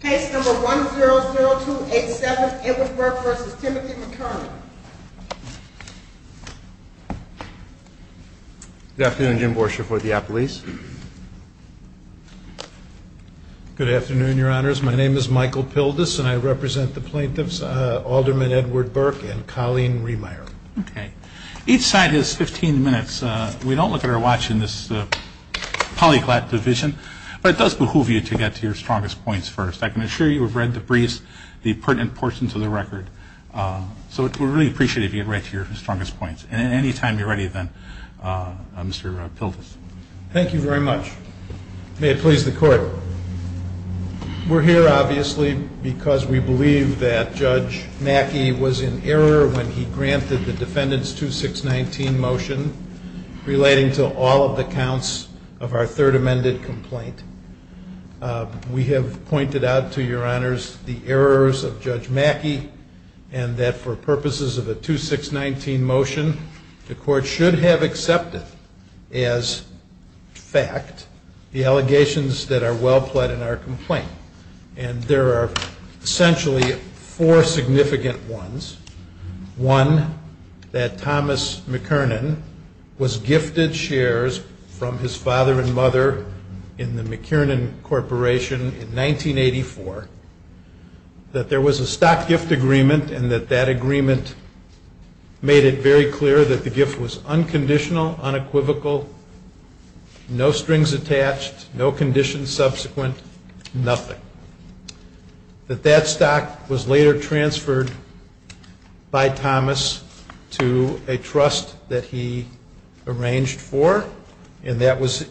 Case number 100287, Edward Burke v. Timothy McKernan. Good afternoon, Jim Borsher for Diapolis. Good afternoon, Your Honors. My name is Michael Pildes, and I represent the plaintiffs, Alderman Edward Burke and Colleen Riemeyer. Okay. Each side has 15 minutes. We don't look at our watch in this polyglot division, but it does behoove you to get to your strongest points first. I can assure you we've read the briefs, the pertinent portions of the record. So we'd really appreciate it if you could get right to your strongest points. And any time you're ready then, Mr. Pildes. Thank you very much. May it please the Court. We're here, obviously, because we believe that Judge Mackey was in error when he granted the Defendant's 2619 motion relating to all of the counts of our Third Amended Complaint. We have pointed out to Your Honors the errors of Judge Mackey, and that for purposes of a 2619 motion, the Court should have accepted as fact the allegations that are well pled in our complaint. And there are essentially four significant ones. One, that Thomas McKernan was gifted shares from his father and mother in the McKernan Corporation in 1984, that there was a stock gift agreement, and that that agreement made it very clear that the gift was unconditional, unequivocal, no strings attached, no conditions subsequent, nothing. That that stock was later transferred by Thomas to a trust that he arranged for, and that was,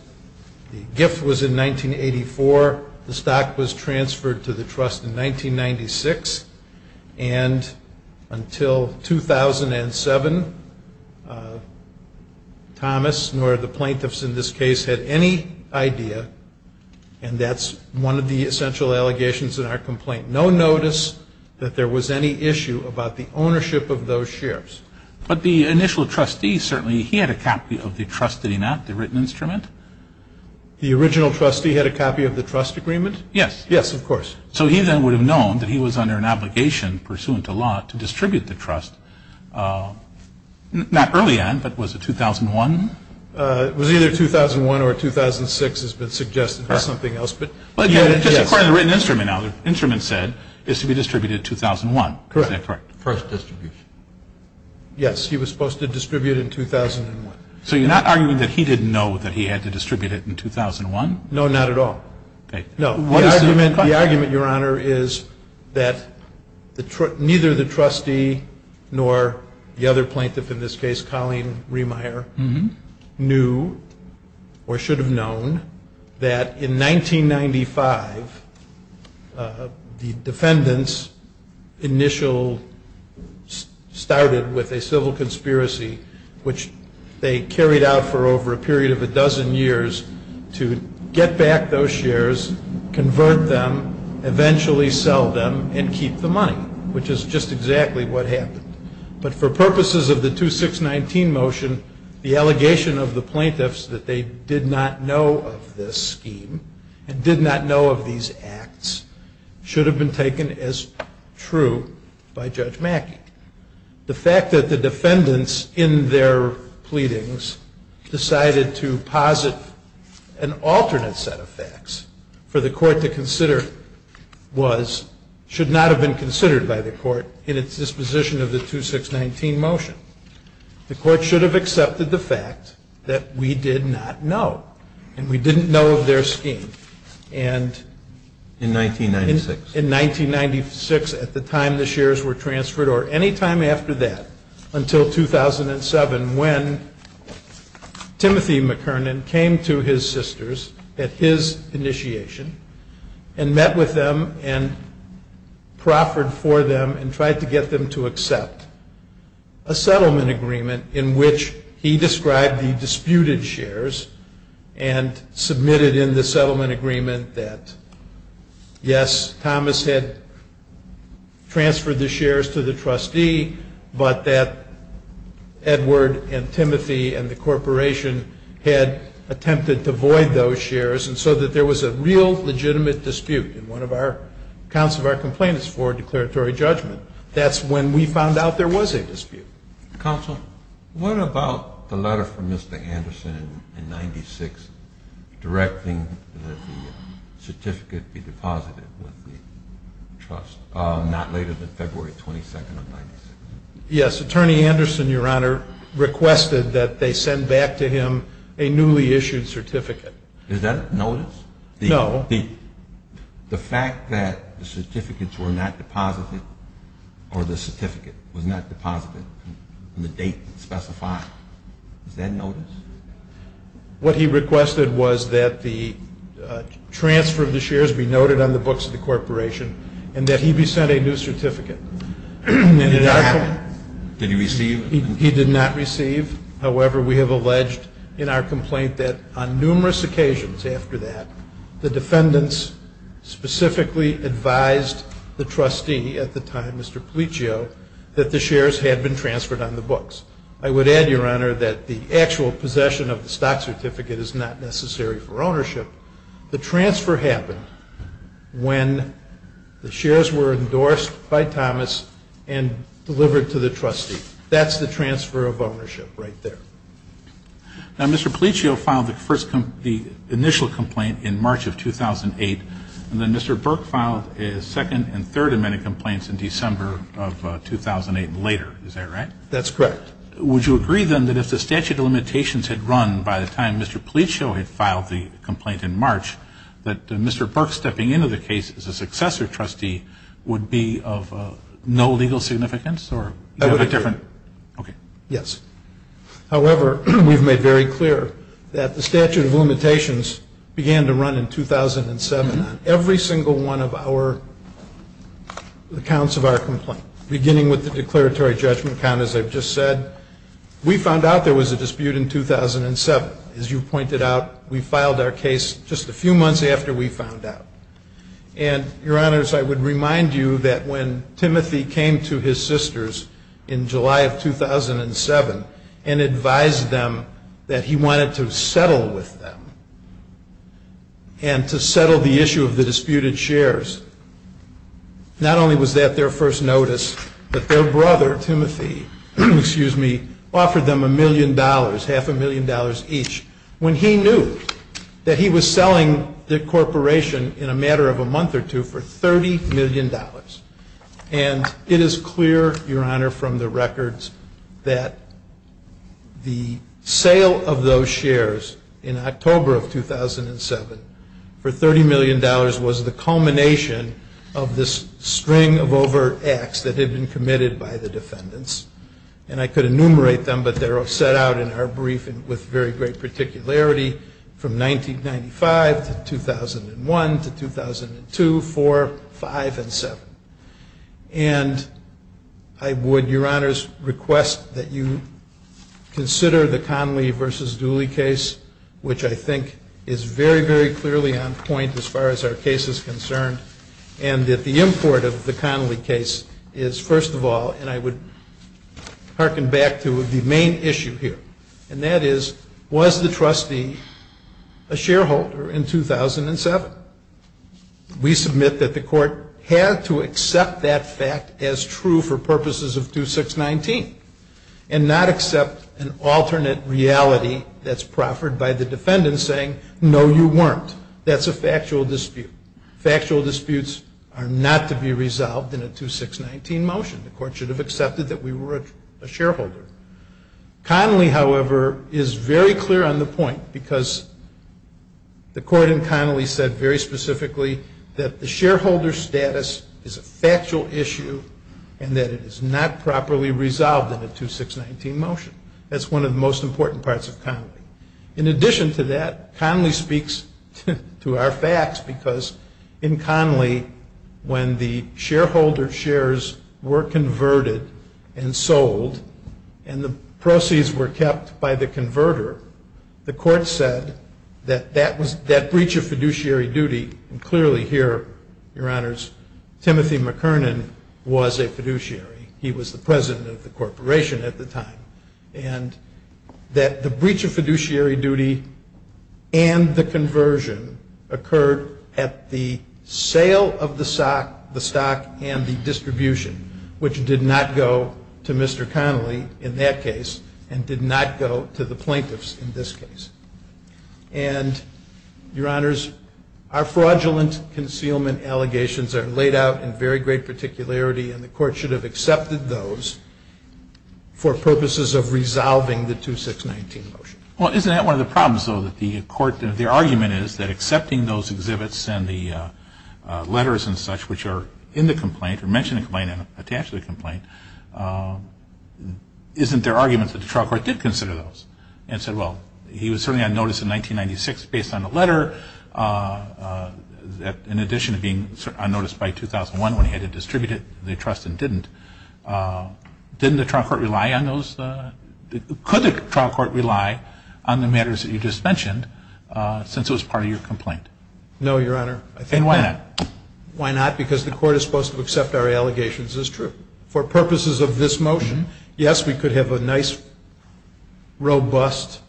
the gift was in 1984, the stock was transferred to the trust in 1996, and until 2007, Thomas, nor the plaintiffs in this case, had any idea, and that's one of the essential allegations in our complaint, no notice that there was any issue about the ownership of those shares. But the initial trustee certainly, he had a copy of the trust, did he not, the written instrument? The original trustee had a copy of the trust agreement? Yes. Yes, of course. So he then would have known that he was under an obligation, pursuant to law, to distribute the trust, not early on, but was it 2001? It was either 2001 or 2006, has been suggested, or something else, but yes. But again, just according to the written instrument now, the instrument said, is to be distributed in 2001. Correct. Is that correct? First distribution. Yes, he was supposed to distribute in 2001. So you're not arguing that he didn't know that he had to distribute it in 2001? No, not at all. Okay. No, the argument, Your Honor, is that neither the trustee nor the other plaintiff, in this case, Colleen Remeyer, knew, or should have known, that in 1995, the defendants initial, started with a civil conspiracy, which they carried out for over a period of a dozen years to get back those shares, convert them, eventually sell them, and keep the money, which is just exactly what happened. But for purposes of the 2619 motion, the allegation of the plaintiffs that they did not know of this scheme, and did not know of these acts, should have been taken as true by Judge Mackey. The fact that the defendants, in their pleadings, decided to posit an alternate set of facts, for the court to consider, should not have been considered by the court in its disposition of the 2619 motion. The court should have accepted the fact that we did not know, and we didn't know of their scheme. In 1996. In 1996, at the time the shares were transferred, or any time after that, until 2007, when Timothy McKernan came to his sisters, at his initiation, and met with them, and proffered for them, and tried to get them to accept a settlement agreement, in which he described the disputed shares, and submitted in the settlement agreement, that yes, Thomas had transferred the shares to the trustee, but that Edward and Timothy and the corporation had attempted to void those shares, and so that there was a real legitimate dispute in one of the accounts of our complainants for declaratory judgment. That's when we found out there was a dispute. Counsel, what about the letter from Mr. Anderson in 1996, directing that the certificate be deposited with the trust, not later than February 22nd of 1996? Yes, Attorney Anderson, Your Honor, requested that they send back to him a newly issued certificate. Is that a notice? No. The fact that the certificates were not deposited, or the certificate was not deposited on the date specified, is that notice? What he requested was that the transfer of the shares be noted on the books of the corporation, and that he be sent a new certificate. Did he receive it? He did not receive. However, we have alleged in our complaint that on numerous occasions after that, the defendants specifically advised the trustee at the time, Mr. Policcio, that the shares had been transferred on the books. I would add, Your Honor, that the actual possession of the stock certificate is not necessary for ownership. The transfer happened when the shares were endorsed by Thomas and delivered to the trustee. That's the transfer of ownership right there. Now, Mr. Policcio filed the initial complaint in March of 2008, and then Mr. Burke filed his second and third amendment complaints in December of 2008 and later. Is that right? That's correct. Would you agree, then, that if the statute of limitations had run by the time Mr. Policcio had filed the complaint in March, that Mr. Burke stepping into the case as a successor trustee would be of no legal significance? Yes. However, we've made very clear that the statute of limitations began to run in 2007 on every single one of the counts of our complaint, beginning with the declaratory judgment count, as I've just said. We found out there was a dispute in 2007. As you pointed out, we filed our case just a few months after we found out. And, Your Honors, I would remind you that when Timothy came to his sisters in July of 2007 and advised them that he wanted to settle with them and to settle the issue of the disputed shares, not only was that their first notice, but their brother, Timothy, offered them a million dollars, half a million dollars each, when he knew that he was selling the corporation in a matter of a month or two for $30 million. And it is clear, Your Honor, from the records that the sale of those shares in October of 2007 for $30 million was the culmination of this string of overt acts that had been committed by the defendants. And I could enumerate them, but they're all set out in our briefing with very great particularity, from 1995 to 2001 to 2002, 4, 5, and 7. And I would, Your Honors, request that you consider the Connolly v. Dooley case, which I think is very, very clearly on point as far as our case is concerned, and that the import of the Connolly case is, first of all, and I would hearken back to the main issue here, and that is, was the trustee a shareholder in 2007? We submit that the Court had to accept that fact as true for purposes of 2619 and not accept an alternate reality that's proffered by the defendant saying, no, you weren't. That's a factual dispute. Factual disputes are not to be resolved in a 2619 motion. The Court should have accepted that we were a shareholder. Connolly, however, is very clear on the point because the Court in Connolly said very specifically that the shareholder status is a factual issue and that it is not properly resolved in a 2619 motion. That's one of the most important parts of Connolly. In addition to that, Connolly speaks to our facts because in Connolly, when the shareholder shares were converted and sold and the proceeds were kept by the converter, the Court said that that breach of fiduciary duty, and clearly here, Your Honors, Timothy McKernan was a fiduciary. He was the president of the corporation at the time. And that the breach of fiduciary duty and the conversion occurred at the sale of the stock and the distribution, which did not go to Mr. Connolly in that case and did not go to the plaintiffs in this case. And, Your Honors, our fraudulent concealment allegations are laid out in very great particularity and the Court should have accepted those for purposes of resolving the 2619 motion. Well, isn't that one of the problems, though, that the Court, that their argument is that accepting those exhibits and the letters and such which are in the complaint or mentioned in the complaint and attached to the complaint, isn't their argument that the trial court did consider those and said, well, he was certainly on notice in 1996 based on a letter in addition to being on notice by 2001 when he had to distribute it to the trust and didn't. Didn't the trial court rely on those? Could the trial court rely on the matters that you just mentioned since it was part of your complaint? No, Your Honor. And why not? Why not? Because the Court is supposed to accept our allegations. It's true. For purposes of this motion, yes, we could have a nice, robust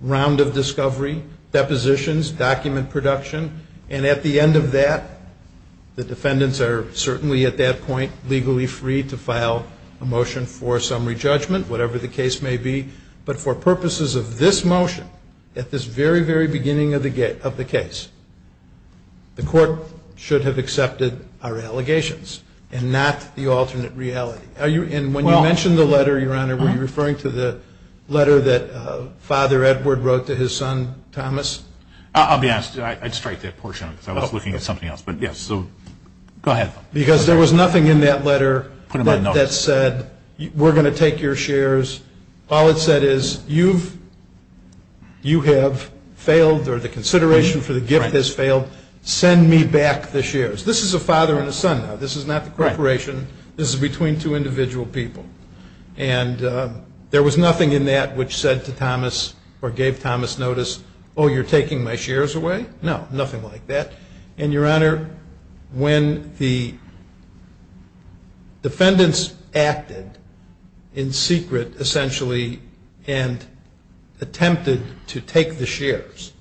round of discovery, depositions, document production, and at the end of that, the defendants are certainly at that point legally free to file a motion for summary judgment, whatever the case may be. But for purposes of this motion, at this very, very beginning of the case, the Court should have accepted our allegations and not the alternate reality. And when you mention the letter, Your Honor, were you referring to the letter that Father Edward wrote to his son, Thomas? I'll be honest. I'd strike that portion because I was looking at something else. But, yes, so go ahead. Because there was nothing in that letter that said, we're going to take your shares. All it said is, you have failed or the consideration for the gift has failed. Send me back the shares. This is a father and a son now. This is not the corporation. This is between two individual people. And there was nothing in that which said to Thomas or gave Thomas notice, oh, you're taking my shares away? No, nothing like that. And, Your Honor, when the defendants acted in secret, essentially, and attempted to take the shares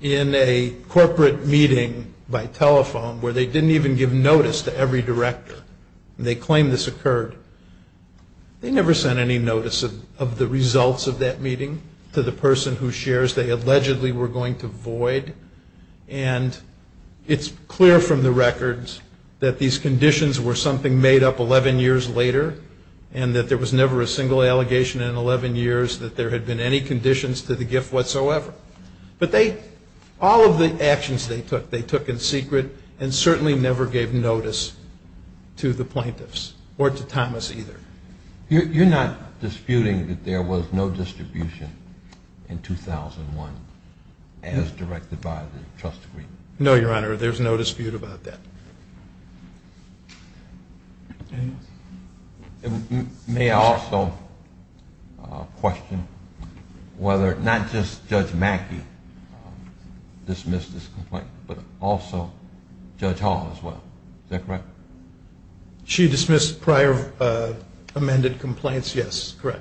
in a corporate meeting by telephone where they didn't even give notice to every director, and they claimed this occurred, they never sent any notice of the results of that meeting to the person whose shares they allegedly were going to void. And it's clear from the records that these conditions were something made up 11 years later and that there was never a single allegation in 11 years that there had been any conditions to the gift whatsoever. But all of the actions they took, they took in secret and certainly never gave notice to the plaintiffs or to Thomas either. You're not disputing that there was no distribution in 2001 as directed by the trust agreement? No, Your Honor, there's no dispute about that. And may I also question whether not just Judge Mackey dismissed this complaint, but also Judge Hall as well, is that correct? She dismissed prior amended complaints, yes, correct.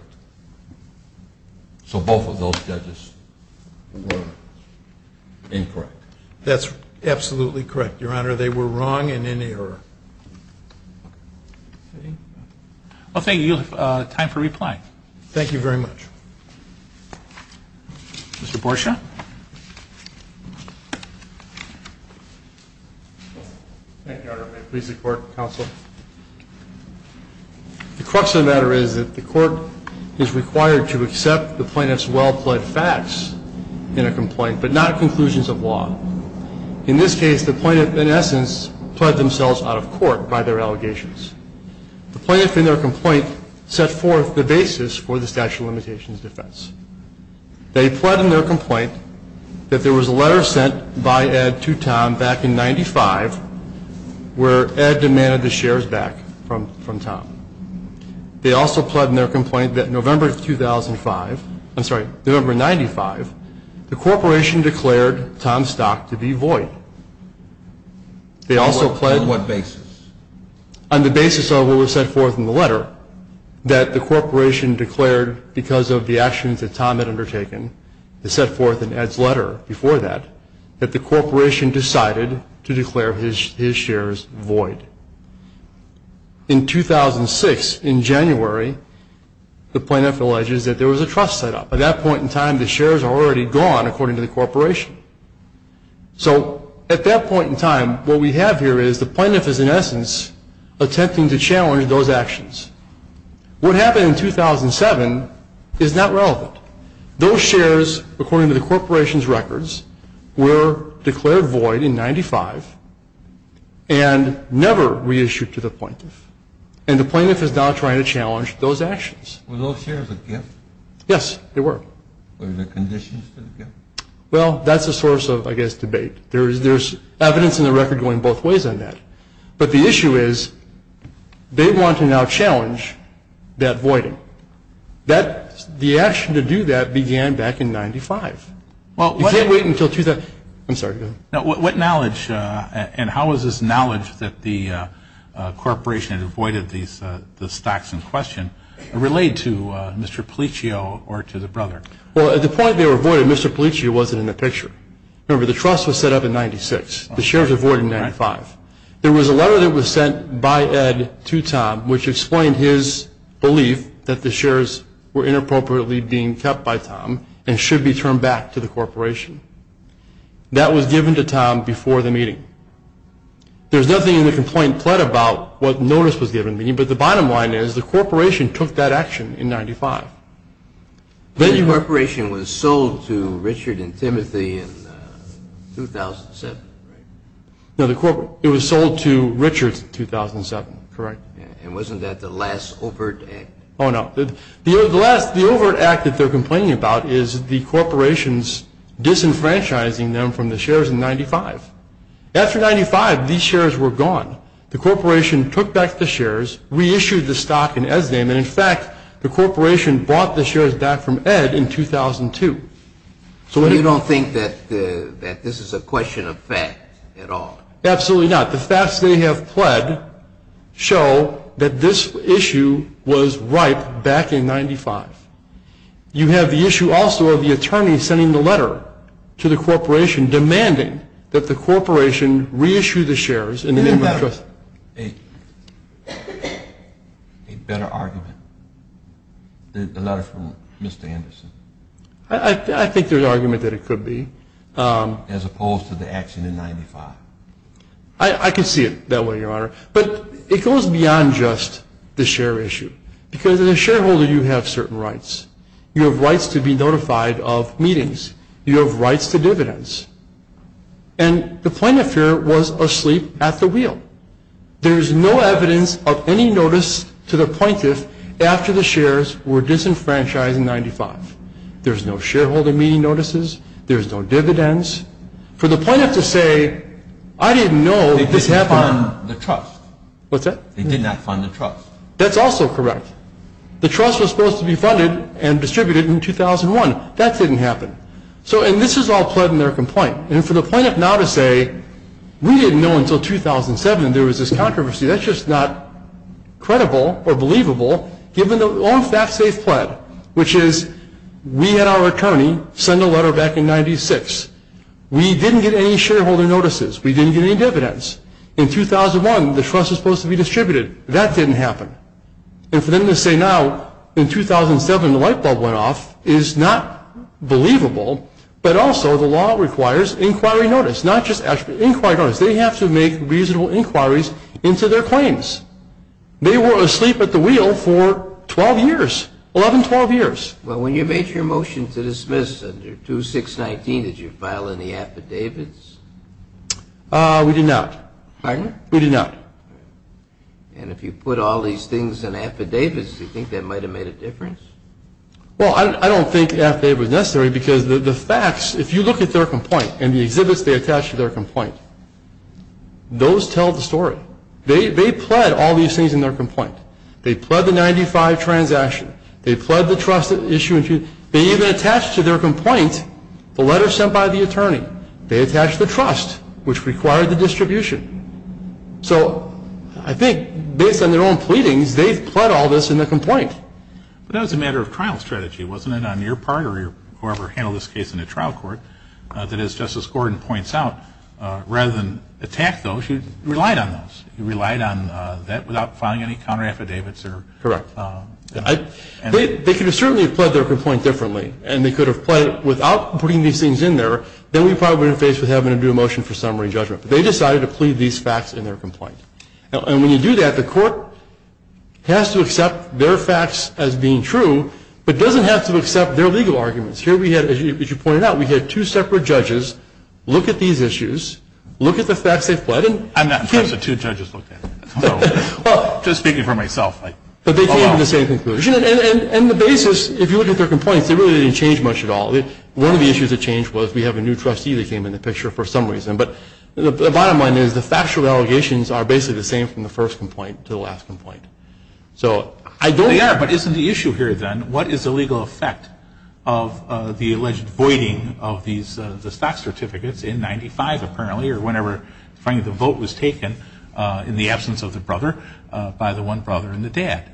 So both of those judges were incorrect? That's absolutely correct, Your Honor. They were wrong and in error. Well, thank you. You have time for replying. Thank you very much. Mr. Borsha. Thank you, Your Honor. May it please the Court, counsel. The crux of the matter is that the Court is required to accept the plaintiff's well-plead facts in a complaint, but not conclusions of law. In this case, the plaintiff, in essence, pled themselves out of court by their allegations. The plaintiff in their complaint set forth the basis for the statute of limitations defense. They pled in their complaint that there was a letter sent by Ed to Tom back in 95 where Ed demanded the shares back from Tom. They also pled in their complaint that November 2005, I'm sorry, November 95, the corporation declared Tom's stock to be void. On what basis? On the basis of what was set forth in the letter, that the corporation declared because of the actions that Tom had undertaken, it set forth in Ed's letter before that, that the corporation decided to declare his shares void. In 2006, in January, the plaintiff alleges that there was a trust set up. By that point in time, the shares are already gone, according to the corporation. So at that point in time, what we have here is the plaintiff is, in essence, attempting to challenge those actions. What happened in 2007 is not relevant. Those shares, according to the corporation's records, were declared void in 95 and never reissued to the plaintiff, and the plaintiff is now trying to challenge those actions. Were those shares a gift? Yes, they were. Were they conditions to the gift? Well, that's a source of, I guess, debate. There's evidence in the record going both ways on that. But the issue is they want to now challenge that voiding. The action to do that began back in 95. You can't wait until 2007. I'm sorry, go ahead. What knowledge and how is this knowledge that the corporation had voided the stocks in question relayed to Mr. Policcio or to the brother? Well, at the point they were voided, Mr. Policcio wasn't in the picture. Remember, the trust was set up in 96. The shares were void in 95. There was a letter that was sent by Ed to Tom, which explained his belief that the shares were inappropriately being kept by Tom and should be turned back to the corporation. That was given to Tom before the meeting. There's nothing in the complaint pled about what notice was given to him, but the bottom line is the corporation took that action in 95. The corporation was sold to Richard and Timothy in 2007, right? No, it was sold to Richard in 2007, correct. And wasn't that the last overt act? Oh, no. The overt act that they're complaining about is the corporation's disenfranchising them from the shares in 95. After 95, these shares were gone. The corporation took back the shares, reissued the stock in Ed's name, and, in fact, the corporation bought the shares back from Ed in 2002. So you don't think that this is a question of fact at all? Absolutely not. The facts they have pled show that this issue was ripe back in 95. You have the issue also of the attorney sending the letter to the corporation and demanding that the corporation reissue the shares in the name of trust. Isn't that a better argument, the letter from Mr. Anderson? I think there's argument that it could be. As opposed to the action in 95. I can see it that way, Your Honor, but it goes beyond just the share issue because as a shareholder you have certain rights. You have rights to be notified of meetings. You have rights to dividends. And the plaintiff here was asleep at the wheel. There's no evidence of any notice to the plaintiff after the shares were disenfranchised in 95. There's no shareholder meeting notices. There's no dividends. For the plaintiff to say, I didn't know this happened. They did not fund the trust. What's that? They did not fund the trust. That's also correct. The trust was supposed to be funded and distributed in 2001. That didn't happen. And this is all pled in their complaint. And for the plaintiff now to say, we didn't know until 2007 there was this controversy. That's just not credible or believable, given the fact they've pled, which is we had our attorney send a letter back in 96. We didn't get any shareholder notices. We didn't get any dividends. In 2001, the trust was supposed to be distributed. That didn't happen. And for them to say now in 2007 the light bulb went off is not believable, but also the law requires inquiry notice, not just inquiry notice. They have to make reasonable inquiries into their claims. They were asleep at the wheel for 12 years, 11, 12 years. Well, when you made your motion to dismiss under 2619, did you file any affidavits? We did not. Pardon? We did not. And if you put all these things in affidavits, do you think that might have made a difference? Well, I don't think the affidavit was necessary because the facts, if you look at their complaint and the exhibits they attached to their complaint, those tell the story. They pled all these things in their complaint. They pled the 95 transaction. They pled the trust issue. They even attached to their complaint the letter sent by the attorney. They attached the trust, which required the distribution. So I think based on their own pleadings, they pled all this in the complaint. But that was a matter of trial strategy. Wasn't it on your part or whoever handled this case in the trial court that, as Justice Gordon points out, rather than attack those, you relied on those? You relied on that without filing any counteraffidavits? Correct. They could have certainly pled their complaint differently, and they could have pled it without putting these things in there. Then we probably would have been faced with having to do a motion for summary judgment. But they decided to plead these facts in their complaint. And when you do that, the court has to accept their facts as being true, but doesn't have to accept their legal arguments. Here we had, as you pointed out, we had two separate judges look at these issues, look at the facts they've pled. I'm not impressed that two judges looked at it. Just speaking for myself. But they came to the same conclusion. And the basis, if you look at their complaints, they really didn't change much at all. One of the issues that changed was we have a new trustee that came in the picture for some reason. But the bottom line is the factual allegations are basically the same from the first complaint to the last complaint. So I don't think they are. They are, but isn't the issue here, then, what is the legal effect of the alleged voiding of the stock certificates in 95, apparently, or whenever finally the vote was taken in the absence of the brother by the one brother and the dad?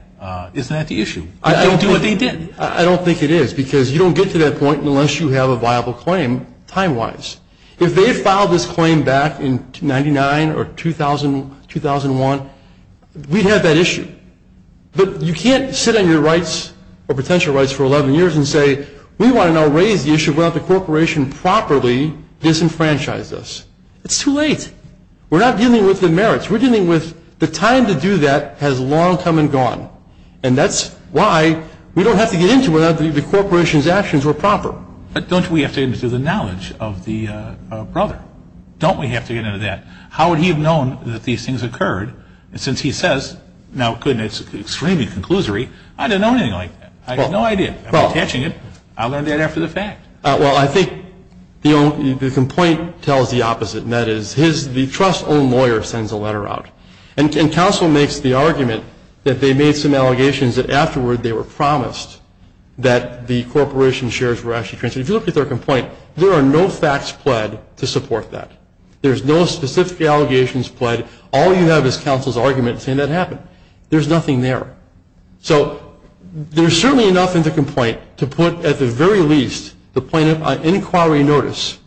Isn't that the issue? I don't think it is. Because you don't get to that point unless you have a viable claim, time-wise. If they had filed this claim back in 99 or 2001, we'd have that issue. But you can't sit on your rights or potential rights for 11 years and say, we want to now raise the issue without the corporation properly disenfranchised us. It's too late. We're not dealing with the merits. We're dealing with the time to do that has long come and gone. And that's why we don't have to get into whether the corporation's actions were proper. But don't we have to get into the knowledge of the brother? Don't we have to get into that? How would he have known that these things occurred? And since he says, now, goodness, extremely conclusory, I don't know anything like that. I have no idea. I'm catching it. I learned that after the fact. Well, I think the complaint tells the opposite, and that is the trust-owned lawyer sends a letter out. And counsel makes the argument that they made some allegations that afterward they were promised that the corporation shares were actually transferred. If you look at their complaint, there are no facts pled to support that. There's no specific allegations pled. All you have is counsel's argument saying that happened. There's nothing there. So there's certainly enough in the complaint to put, at the very least, the plaintiff on inquiry notice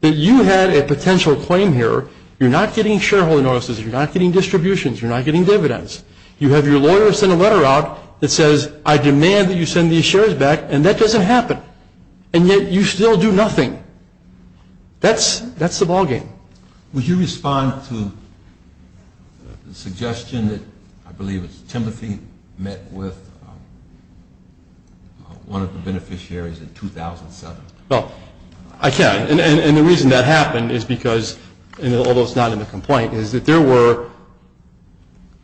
that you had a potential claim here. You're not getting shareholder notices. You're not getting distributions. You're not getting dividends. You have your lawyer send a letter out that says, I demand that you send these shares back, and that doesn't happen. And yet you still do nothing. That's the ballgame. Would you respond to the suggestion that I believe it was Timothy met with one of the beneficiaries in 2007? Well, I can. And the reason that happened is because, although it's not in the complaint, is that there were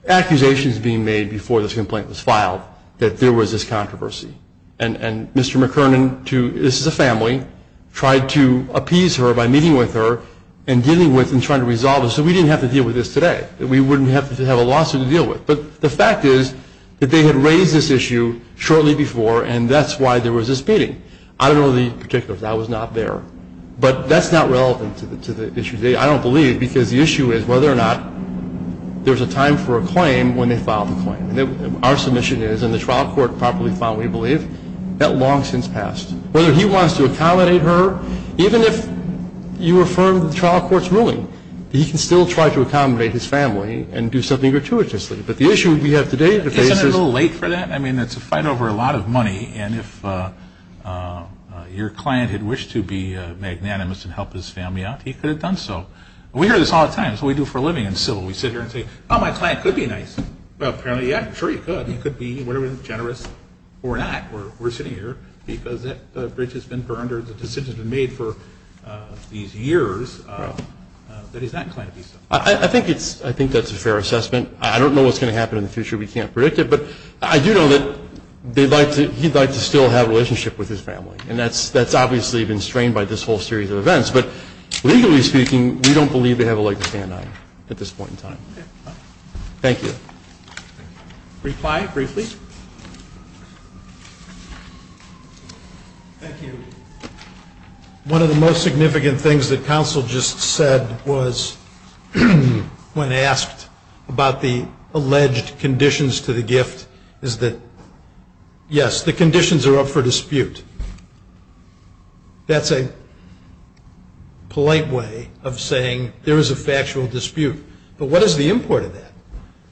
accusations being made before this complaint was filed that there was this controversy. And Mr. McKernan, this is a family, tried to appease her by meeting with her and dealing with and trying to resolve this so we didn't have to deal with this today, that we wouldn't have to have a lawsuit to deal with. But the fact is that they had raised this issue shortly before, and that's why there was this meeting. I don't know the particulars. I was not there. But that's not relevant to the issue today, I don't believe, because the issue is whether or not there's a time for a claim when they file the claim. Our submission is, and the trial court properly filed, we believe, that long since passed. Whether he wants to accommodate her, even if you affirm the trial court's ruling, he can still try to accommodate his family and do something gratuitously. But the issue we have today at the base is – Isn't it a little late for that? I mean, it's a fight over a lot of money. And if your client had wished to be magnanimous and help his family out, he could have done so. We hear this all the time. It's what we do for a living in civil. We sit here and say, oh, my client could be nice. Well, apparently, yeah, I'm sure he could. He could be generous or not. We're sitting here because that bridge has been burned or the decision has been made for these years that he's not going to be so. I think that's a fair assessment. I don't know what's going to happen in the future. We can't predict it. But I do know that they'd like to – he'd like to still have a relationship with his family. And that's obviously been strained by this whole series of events. But legally speaking, we don't believe they have a leg to stand on at this point in time. Okay. Thank you. Thank you. Reply briefly. Thank you. One of the most significant things that counsel just said was when asked about the alleged conditions to the gift is that, yes, the conditions are up for dispute. That's a polite way of saying there is a factual dispute. But what is the import of that?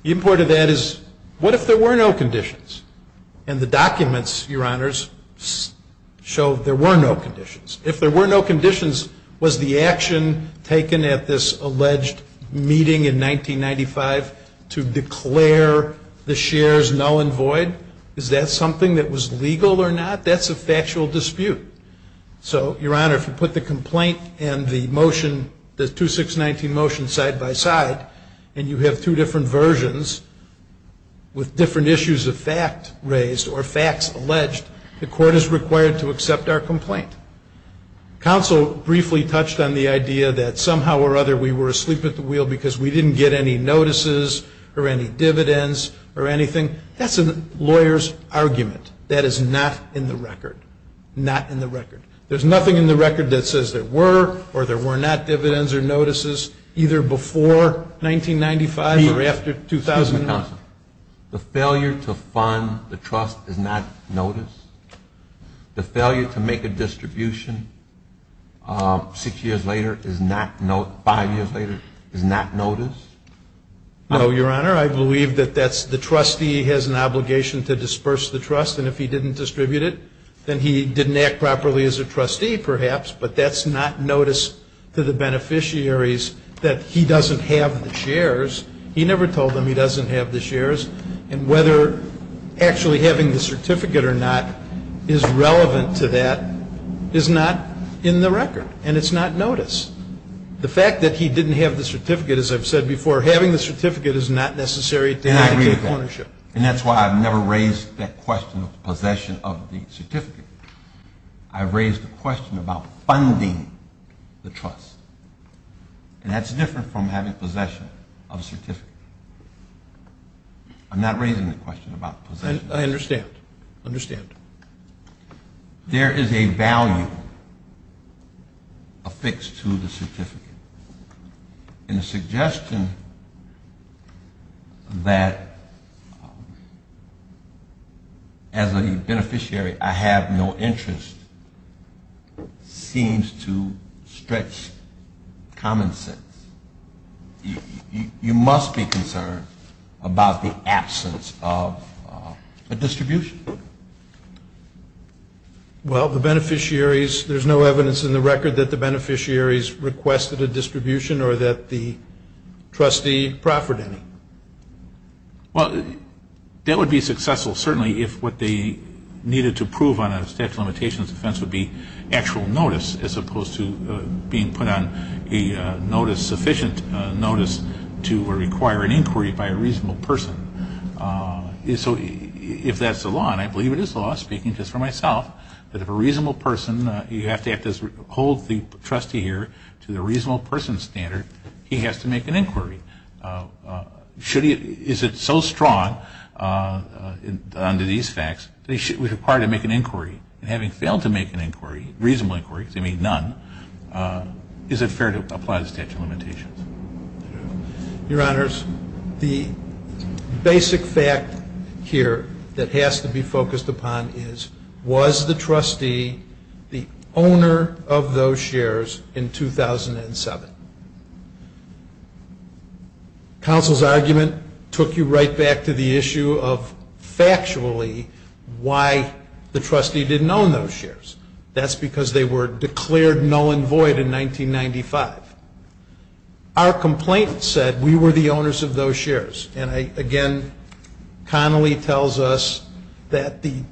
The import of that is what if there were no conditions? And the documents, Your Honors, show there were no conditions. If there were no conditions, was the action taken at this alleged meeting in 1995 to declare the shares null and void? Is that something that was legal or not? That's a factual dispute. So, Your Honor, if you put the complaint and the motion, the 2619 motion side by side, and you have two different versions with different issues of fact raised or facts alleged, the court is required to accept our complaint. Counsel briefly touched on the idea that somehow or other we were asleep at the wheel because we didn't get any notices or any dividends or anything. That's a lawyer's argument. That is not in the record. Not in the record. There's nothing in the record that says there were or there were not dividends or notices either before 1995 or after 2000. The failure to fund the trust is not notice? The failure to make a distribution six years later, five years later, is not notice? No, Your Honor. I believe that the trustee has an obligation to disperse the trust, and if he didn't distribute it, then he didn't act properly as a trustee, perhaps, but that's not notice to the beneficiaries that he doesn't have the shares. He never told them he doesn't have the shares, and whether actually having the certificate or not is relevant to that is not in the record, and it's not notice. The fact that he didn't have the certificate, as I've said before, having the certificate is not necessary to indicate ownership. And I agree with that, and that's why I've never raised that question of possession of the certificate. I raised the question about funding the trust, and that's different from having possession of the certificate. I'm not raising the question about possession. I understand. There is a value affixed to the certificate, and the suggestion that as a beneficiary I have no interest seems to stretch common sense. You must be concerned about the absence of a distribution. Well, there's no evidence in the record that the beneficiaries requested a distribution or that the trustee proffered any. Well, that would be successful, certainly, if what they needed to prove on a statute of limitations defense would be actual notice as opposed to being put on a sufficient notice to require an inquiry by a reasonable person. So if that's the law, and I believe it is the law, speaking just for myself, that if a reasonable person, you have to hold the trustee here to the reasonable person standard, he has to make an inquiry. Is it so strong under these facts that he should be required to make an inquiry? And having failed to make an inquiry, a reasonable inquiry, because they made none, is it fair to apply the statute of limitations? Your Honors, the basic fact here that has to be focused upon is, was the trustee the owner of those shares in 2007? Counsel's argument took you right back to the issue of, factually, why the trustee didn't own those shares. That's because they were declared null and void in 1995. Our complaint said we were the owners of those shares. And, again, Connolly tells us that the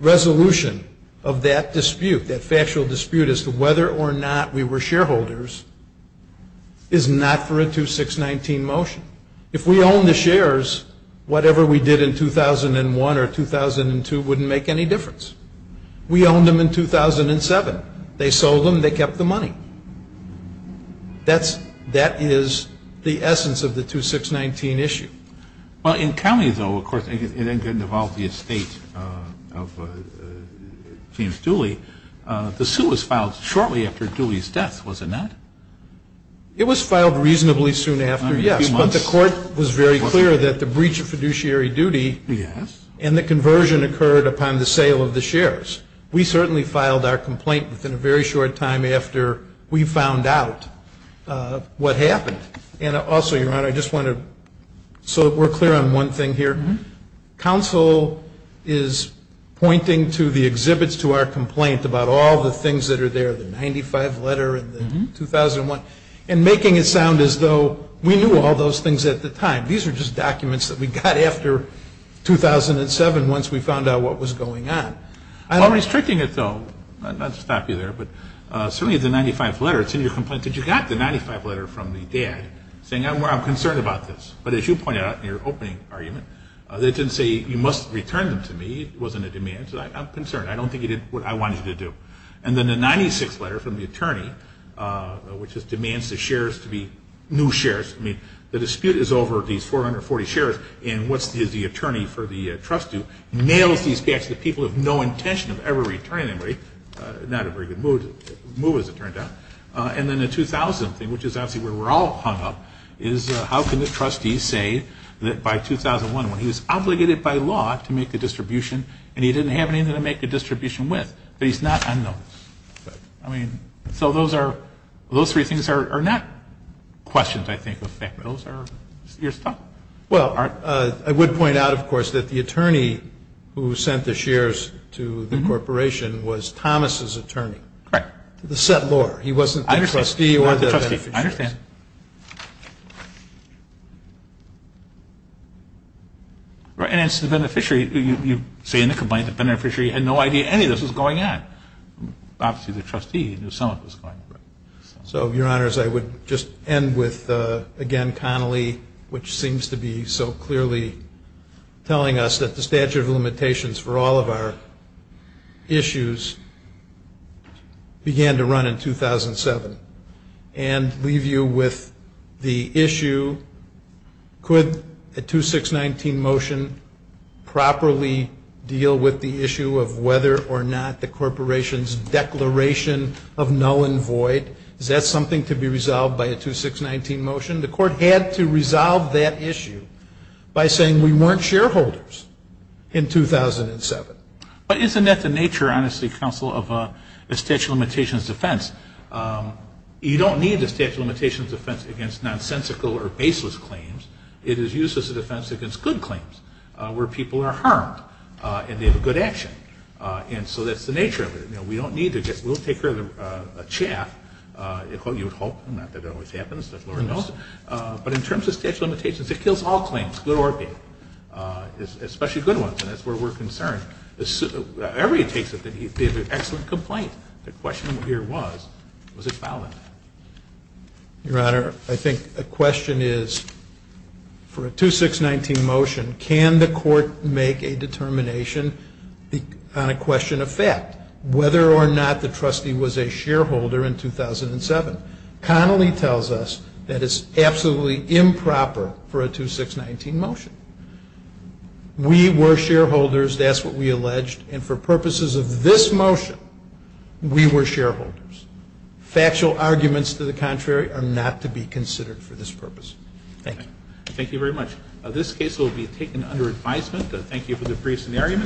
resolution of that dispute, that factual dispute, as to whether or not we were shareholders, is not for a 2619 motion. If we owned the shares, whatever we did in 2001 or 2002 wouldn't make any difference. We owned them in 2007. They sold them. They kept the money. That is the essence of the 2619 issue. Well, in Connolly, though, of course, it involved the estate of James Dooley. The suit was filed shortly after Dooley's death, wasn't it? It was filed reasonably soon after, yes. But the court was very clear that the breach of fiduciary duty and the conversion occurred upon the sale of the shares. We certainly filed our complaint within a very short time after we found out what happened. And also, Your Honor, I just want to sort of work clear on one thing here. Counsel is pointing to the exhibits to our complaint about all the things that are there, the 95 letter and the 2001, and making it sound as though we knew all those things at the time. These are just documents that we got after 2007 once we found out what was going on. While restricting it, though, not to stop you there, but certainly the 95 letter, it's in your complaint that you got the 95 letter from the dad saying, well, I'm concerned about this. But as you pointed out in your opening argument, they didn't say, you must return them to me. It wasn't a demand. They said, I'm concerned. I don't think you did what I wanted you to do. And then the 96 letter from the attorney, which just demands the shares to be new shares. I mean, the dispute is over these 440 shares. And what does the attorney for the trust do? Nails these back to the people of no intention of ever returning them, right? Not a very good move, as it turned out. And then the 2000 thing, which is obviously where we're all hung up, is how can the trustee say that by 2001 when he was obligated by law to make the distribution and he didn't have anything to make the distribution with. But he's not unnoticed. I mean, so those three things are not questions, I think, of fact. Those are your stuff. Well, I would point out, of course, that the attorney who sent the shares to the corporation was Thomas's attorney. Correct. The settlor. He wasn't the trustee or the beneficiary. I understand. And as to the beneficiary, you say in the complaint the beneficiary had no idea any of this was going on. Obviously, the trustee knew some of it was going on. So, Your Honors, I would just end with, again, Connolly, which seems to be so clearly telling us that the statute of limitations for all of our issues began to run in 2007 and leave you with the issue, could a 2619 motion properly deal with the issue of whether or not the corporation's declaration of null and void, is that something to be resolved by a 2619 motion? The court had to resolve that issue by saying we weren't shareholders in 2007. But isn't that the nature, honestly, Counsel, of a statute of limitations defense? You don't need a statute of limitations defense against nonsensical or baseless claims. It is used as a defense against good claims where people are harmed and they have a good action. And so that's the nature of it. We don't need to take care of the chaff. You'd hope. Not that it always happens. But in terms of statute of limitations, it kills all claims, good or bad, especially good ones. And that's where we're concerned. Every case that he did an excellent complaint. The question here was, was it valid? Your Honor, I think the question is, for a 2619 motion, can the court make a determination on a question of fact, whether or not the trustee was a shareholder in 2007? Connolly tells us that it's absolutely improper for a 2619 motion. We were shareholders. That's what we alleged. And for purposes of this motion, we were shareholders. Factual arguments to the contrary are not to be considered for this purpose. Thank you. Thank you very much. This case will be taken under advisement. Thank you for the brief scenario.